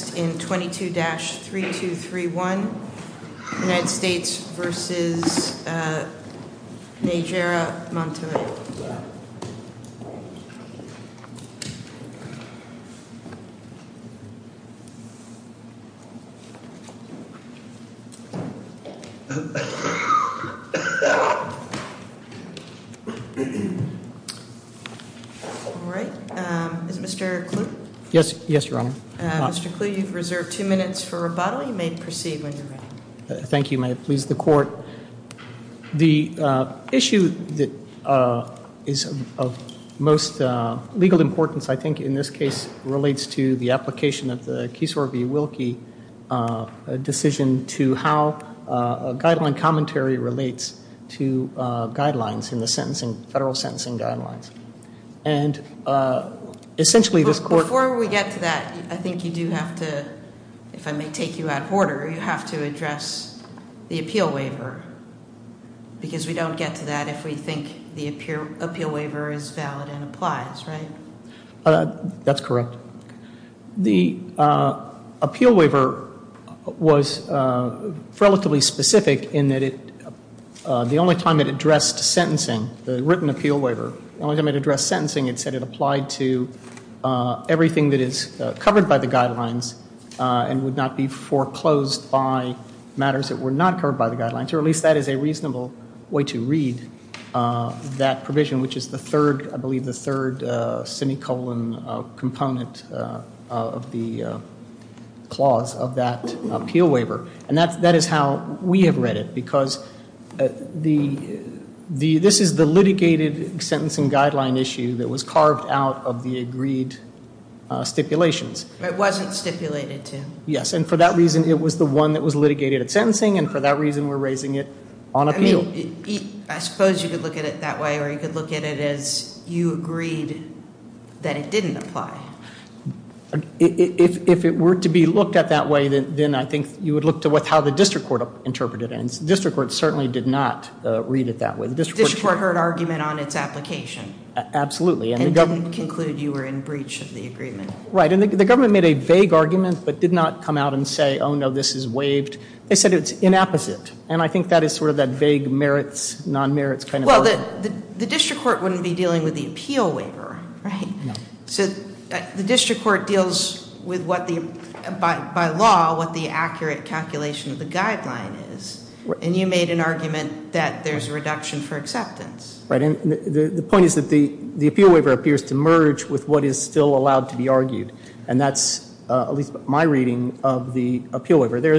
All right. Is it Mr. Kluge? Yes, Your Honor. Mr. Kluge, you have the floor. Thank you. You've reserved two minutes for rebuttal. You may proceed when you're ready. Thank you. May it please the court. The issue that is of most legal importance, I think, in this case relates to the application of the Keesor v. Wilkie decision to how guideline commentary relates to guidelines in the sentencing, federal sentencing guidelines. And essentially this court... Before we get to that, I think you do have to, if I may take you out of order, you have to address the appeal waiver. Because we don't get to that if we think the appeal waiver is valid and applies, right? That's correct. The appeal waiver was relatively specific in that the only time it addressed sentencing, the written appeal waiver, the only time it addressed sentencing it said it applied to everything that is covered by the guidelines and would not be foreclosed by matters that were not covered by the guidelines. Or at least that is a reasonable way to read that provision, which is the third, I believe the third semicolon component of the clause of that appeal waiver. And that is how we have read it. Because this is the litigated sentencing guideline issue that was carved out of the agreed stipulations. It wasn't stipulated to. Yes. And for that reason it was the one that was litigated at sentencing and for that reason we're raising it on appeal. I suppose you could look at it that way or you could look at it as you agreed that it didn't apply. If it were to be looked at that way then I think you would look to how the district court interpreted it. And the district court certainly did not read it that way. The district court heard argument on its application. Absolutely. And didn't conclude you were in breach of the agreement. Right. And the government made a vague argument but did not come out and say, oh no, this is waived. They said it's inapposite. And I think that is sort of that vague merits, non-merits kind of argument. Well, the district court wouldn't be dealing with the appeal waiver, right? No. The district court deals with what the, by law, what the accurate calculation of the guideline is. And you made an argument that there's a reduction for acceptance. Right. And the point is that the there's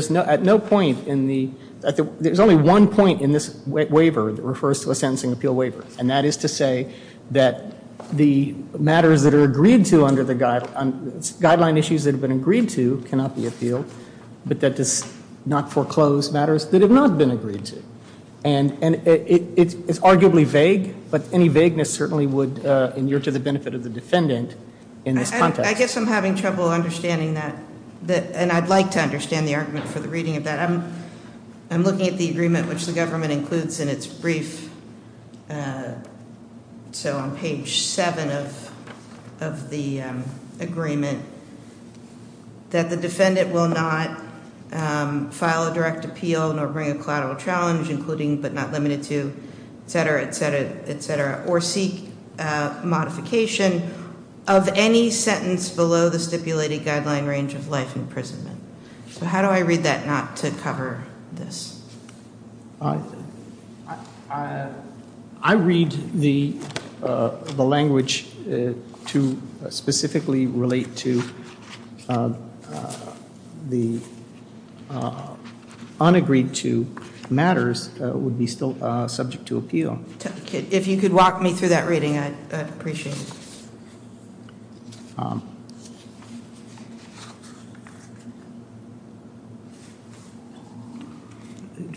no, at no point in the, there's only one point in this waiver that refers to a sentencing appeal waiver. And that is to say that the matters that are agreed to under the guideline, issues that have been agreed to cannot be appealed, but that does not foreclose matters that have not been agreed to. And it's arguably vague, but any vagueness certainly would endure to the benefit of the I'd like to understand the argument for the reading of that. I'm looking at the agreement which the government includes in its brief. So on page seven of the agreement, that the defendant will not file a direct appeal, nor bring a collateral challenge, including but not limited to, et cetera, et cetera, et cetera, or seek modification of any sentence below the stipulated guideline range of life imprisonment. So how do I read that not to cover this? I read the language to specifically relate to the unagreed to matters would be still subject to appeal. If you could walk me through that reading, I'd appreciate it.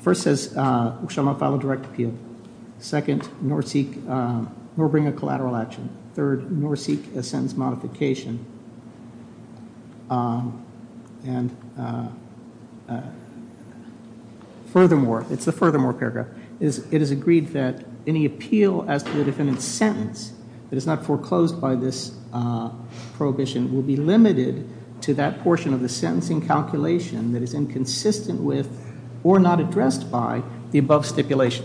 First says, shall not file a direct appeal. Second, nor seek, nor bring a collateral action. Third, nor seek a sentence modification. And furthermore, it's the furthermore paragraph, it is agreed that any appeal as to the defendant's sentence that is not foreclosed by this prohibition will be limited to that portion of the sentencing calculation that is inconsistent with or not addressed by the above stipulation.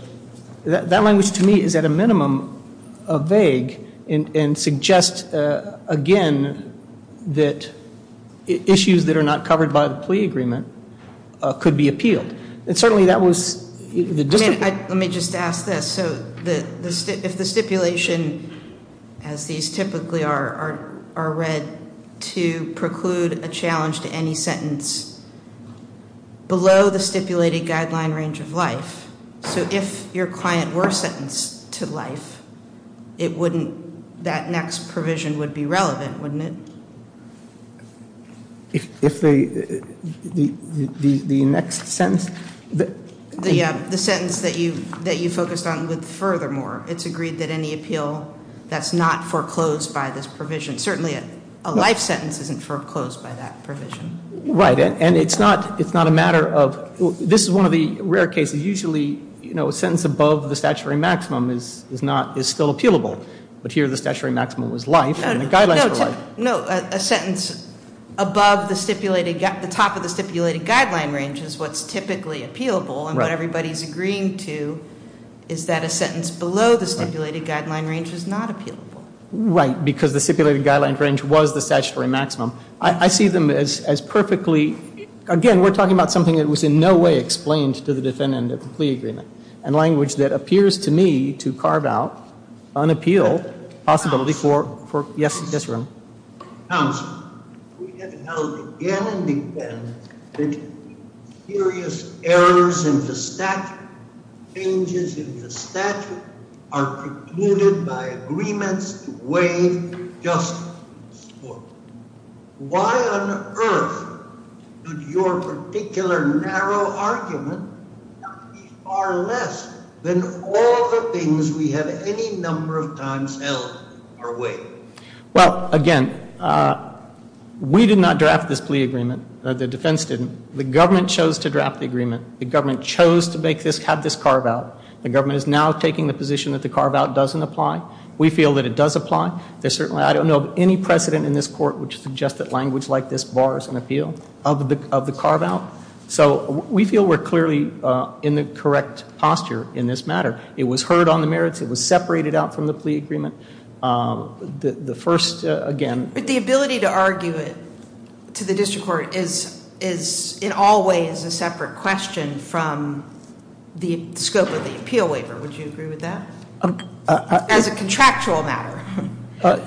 That language to me is at a minimum vague and suggests again that issues that are not covered by the plea agreement could be appealed. And certainly that was... Let me just ask this. So if the stipulation as these typically are read to preclude a challenge to any If your client were sentenced to life, it wouldn't... That next provision would be relevant, wouldn't it? If the next sentence... The sentence that you focused on with furthermore, it's agreed that any appeal that's not foreclosed by this provision. Certainly a life sentence isn't foreclosed by that provision. Right. And it's not a matter of... This is one of the rare cases. Usually a sentence above the statutory maximum is not... Is still appealable. But here the statutory maximum was life and the guidelines were life. No. A sentence above the stipulated the top of the stipulated guideline range is what's typically appealable. And what everybody's agreeing to is that a sentence below the stipulated guideline range is not appealable. Right. Because the stipulated guideline range was the statutory maximum. I see them as perfectly... Again, we're talking about something that was in no way explained to the defendant of the plea agreement. And language that appears to me to carve out, unappeal possibility for... Yes. Yes, Your Honor. Counsel, we have held again and again that serious errors in the statute, changes in the Why on earth did your particular narrow argument be far less than all the things we have any number of times held our way? Well, again, we did not draft this plea agreement. The defense didn't. The government chose to draft the agreement. The government chose to make this... Have this carve out. The government is now taking the position that the carve out doesn't apply. We feel that it does apply. There's certainly... I don't know of any precedent in this court which suggests that language like this bars an appeal of the carve out. So we feel we're clearly in the correct posture in this matter. It was heard on the merits. It was separated out from the plea agreement. The first, again... But the ability to argue it to the district court is in all ways a separate question from the scope of the appeal waiver. Would you agree with that? As a contractual matter.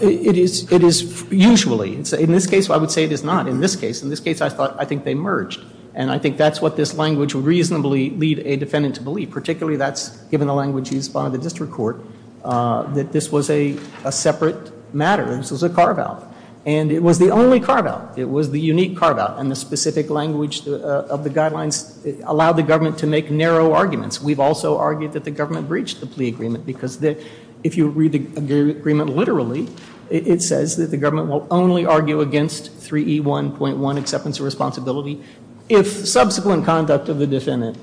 It is usually. In this case I would say it is not. In this case I think they merged. And I think that's what this language would reasonably lead a defendant to believe. Particularly that's given the language used by the district court that this was a separate matter. This was a carve out. And it was the only carve out. It was the unique carve out. And the specific language of the guidelines allowed the government to make narrow arguments. We've also argued that the government breached the plea agreement. Because if you read the agreement literally, it says that the government will only argue against 3E1.1, acceptance of responsibility, if subsequent conduct of the defendant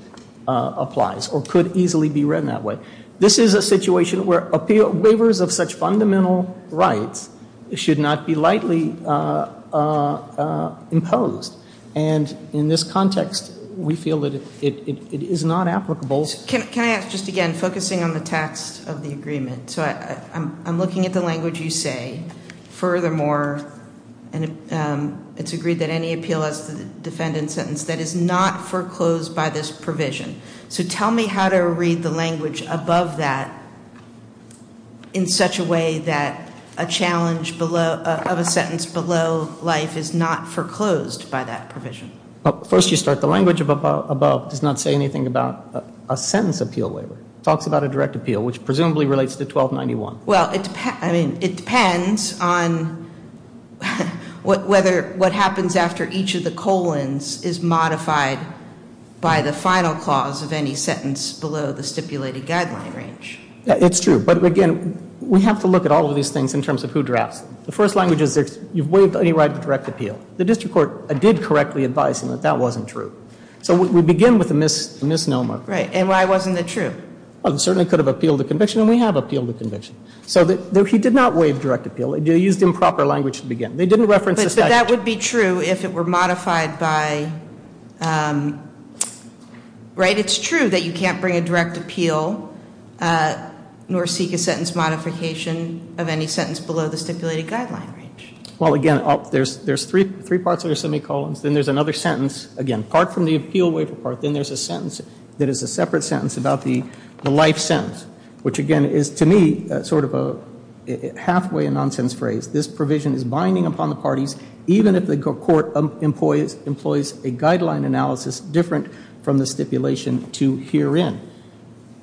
applies or could easily be read that way. This is a situation where waivers of such fundamental rights should not be lightly imposed. And in this context we feel that it is not applicable. Can I ask just again, focusing on the text of the agreement. I'm looking at the language you say. Furthermore it's agreed that any appeal as to the defendant's sentence that is not foreclosed by this provision. So tell me how to read the language above that in such a way that a challenge of a sentence below life is not foreclosed by that provision. First you start the language above does not say anything about a sentence appeal waiver. It talks about a direct appeal. Which presumably relates to 1291. Well it depends on whether what happens after each of the colons is modified by the final clause of any sentence below the stipulated guideline range. It's true. But again we have to look at all of these things in terms of who drafts them. The first language is you've waived any right to direct appeal. The district court did correctly advise that that wasn't true. So we begin with a misnomer. And why wasn't it true? It certainly could have appealed the conviction and we have appealed the conviction. So he did not waive direct appeal. They used improper language to begin. They didn't reference the statute. But that would be true if it were modified by, right it's true that you can't bring a direct appeal nor seek a sentence modification of any sentence below the stipulated guideline range. Well again there's three parts of the semicolons. Then there's another sentence. Again part from the appeal waiver part. Then there's a sentence that is a separate sentence about the life sentence. Which again is to me sort of a half way nonsense phrase. This provision is binding upon the parties even if the court employs a guideline analysis different from the stipulation to peer in.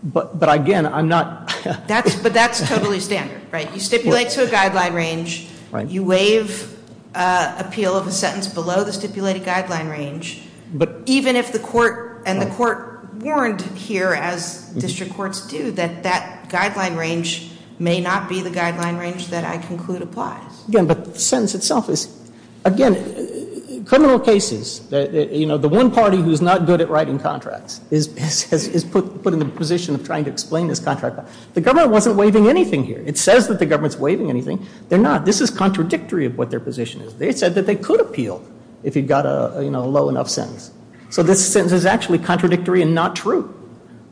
But again I'm not. But that's totally standard. You stipulate to a guideline range. You waive appeal of a sentence below the stipulated guideline range. Even if the court and the court warned here as district courts do that that guideline range may not be the guideline range that I conclude applies. But the sentence itself is again criminal cases. You know the one party who's not good at writing contracts is put in the position of trying to explain this contract. The government wasn't waiving anything here. It says that the government's waiving anything. They're not. This is contradictory of what their position is. They said that they could appeal if you got a low enough sentence. So this sentence is actually contradictory and not true.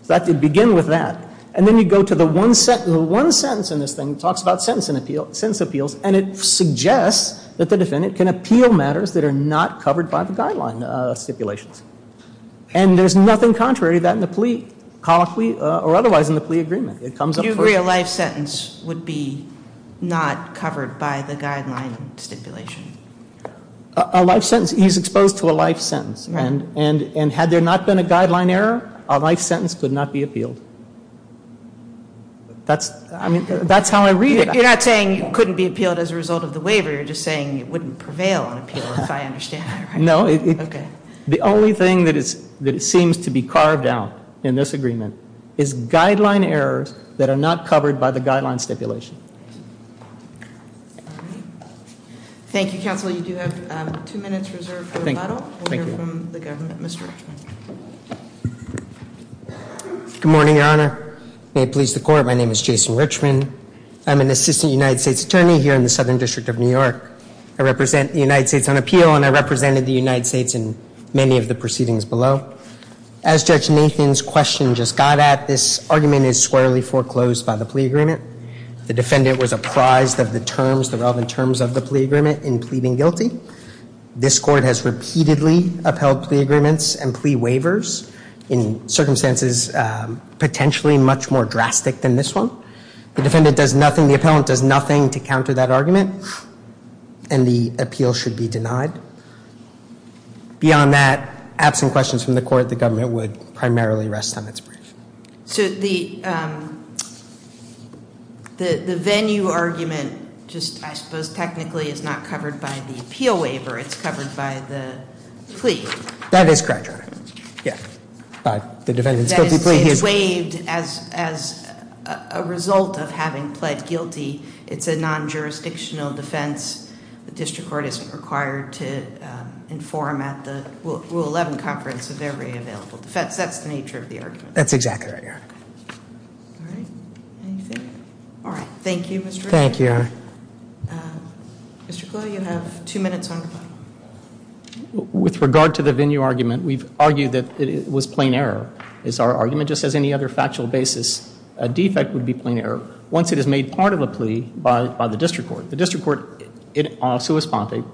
That did begin with that. And then you go to the one sentence in this thing that talks about sentence appeals and it suggests that the defendant can appeal matters that are not covered by the guideline stipulations. And there's nothing contrary to that in the plea colloquy or otherwise in the plea agreement. It comes up first. Do you agree a life sentence would be not covered by the guideline stipulation? A life sentence. He's exposed to a life sentence. And had there not been a guideline error, a life sentence could not be appealed. That's how I read it. You're not saying it couldn't be appealed as a result of the waiver. You're just saying it wouldn't prevail on appeal if I understand that right. No. The only thing that seems to be carved out in this agreement is guideline errors that are not covered by the guideline stipulation. Thank you, Counsel. You do have two minutes reserved for rebuttal. We'll hear from the government. Mr. Richman. Good morning, Your Honor. May it please the Court, my name is Jason Richman. I'm an Assistant United States Attorney here in the Southern District of New York. I represent the United States on appeal and I represented the United States in many of the proceedings below. As Judge Nathan's question just got at, this argument is squarely foreclosed by the plea agreement. The defendant was apprised of the terms, the relevant terms of the plea agreement in pleading guilty. This Court has repeatedly upheld plea agreements and plea waivers in circumstances potentially much more drastic than this one. The defendant does nothing, the appellant does nothing to counter that argument. And the appeal should be denied. Beyond that, absent questions from the Court, the government would primarily rest on its brief. The venue argument, I suppose, technically is not covered by the appeal waiver, it's covered by the plea. That is correct, Your Honor. It's waived as a result of having pled guilty. It's a non-jurisdictional defense. The District Court isn't required to inform at the Rule 11 Conference of every available defense. That's the nature of the argument. That's exactly right, Your Honor. All right. Thank you, Mr. Richman. Thank you, Your Honor. Mr. Kluge, you have two minutes on your part. With regard to the venue argument, we've argued that it was plain error. Once it is made part of a plea by the District Court, the District Court, in all sui sponte,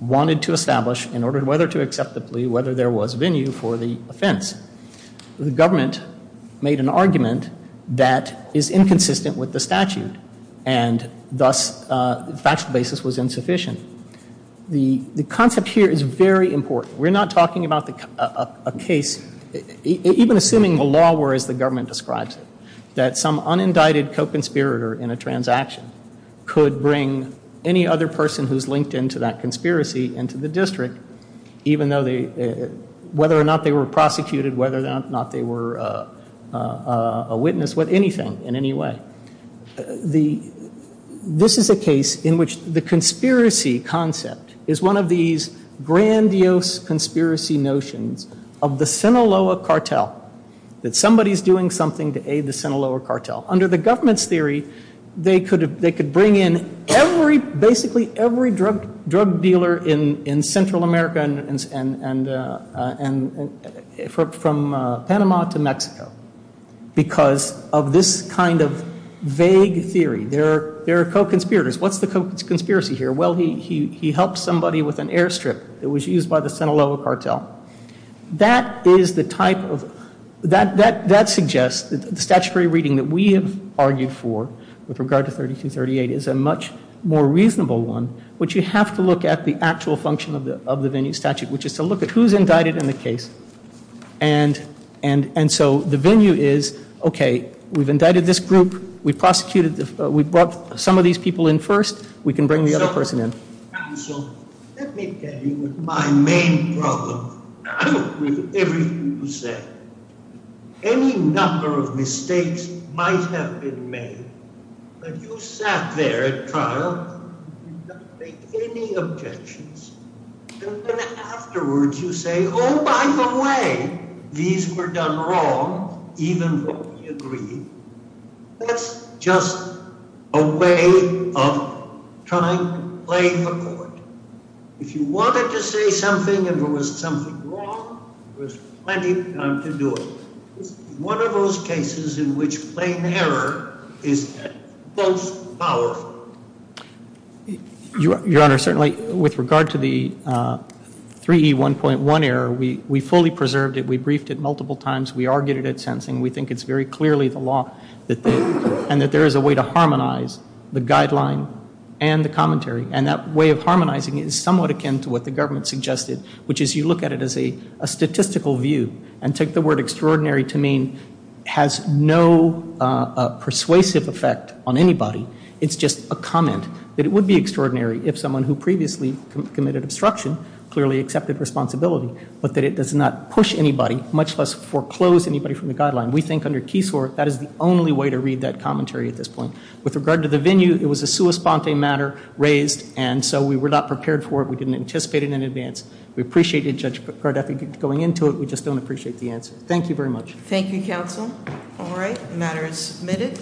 wanted to establish, in order whether to accept the plea, whether there was venue for the offense. The government made an argument that is inconsistent with the statute and thus the factual basis was insufficient. The concept here is very important. We're not talking about a case, even assuming the law were as the government describes it, that some unindicted co-conspirator in a transaction could bring any other person who's a witness with anything in any way. This is a case in which the conspiracy concept is one of these grandiose conspiracy notions of the Sinaloa cartel, that somebody's doing something to aid the Sinaloa cartel. Under the government's theory, they could bring in basically every drug dealer in Central America and from Panama to Mexico. Because of this kind of vague theory, there are co-conspirators. What's the co-conspiracy here? Well, he helped somebody with an airstrip that was used by the Sinaloa cartel. That is the type of, that suggests that the statutory reading that we have argued for with regard to 3238 is a much more reasonable one, which you have to look at the actual function of the venue statute, which is to look at who's indicted in the case. And so the venue is, okay, we've indicted this group, we prosecuted, we brought some of these people in first, we can bring the other person in. And so let me get you with my main problem. I agree with everything you said. Any number of mistakes might have been made, but you sat there at trial, did not make any objections. And then afterwards you say, oh, by the way, these were done wrong, even though we agree. That's just a way of trying to play the court. If you wanted to say something and there was something wrong, there was plenty of time to do it. One of those cases in which plain error is most powerful. Your Honor, certainly with regard to the 3E1.1 error, we fully preserved it, we briefed it multiple times, we argued it at the court, we harmonized the guideline and the commentary. And that way of harmonizing is somewhat akin to what the government suggested, which is you look at it as a statistical view and take the word extraordinary to mean it has no persuasive effect on anybody. It's just a comment that it would be extraordinary if someone who previously committed obstruction clearly accepted responsibility, but that it does not push anybody, much less foreclose anybody from the guideline. We think under Keysore that is the only way to read that commentary at this point. With regard to the venue, it was a sua sponte matter raised and so we were not prepared for it. We didn't anticipate it in advance. We appreciated Judge Cardiff going into it. We just don't appreciate the answer. Thank you very much.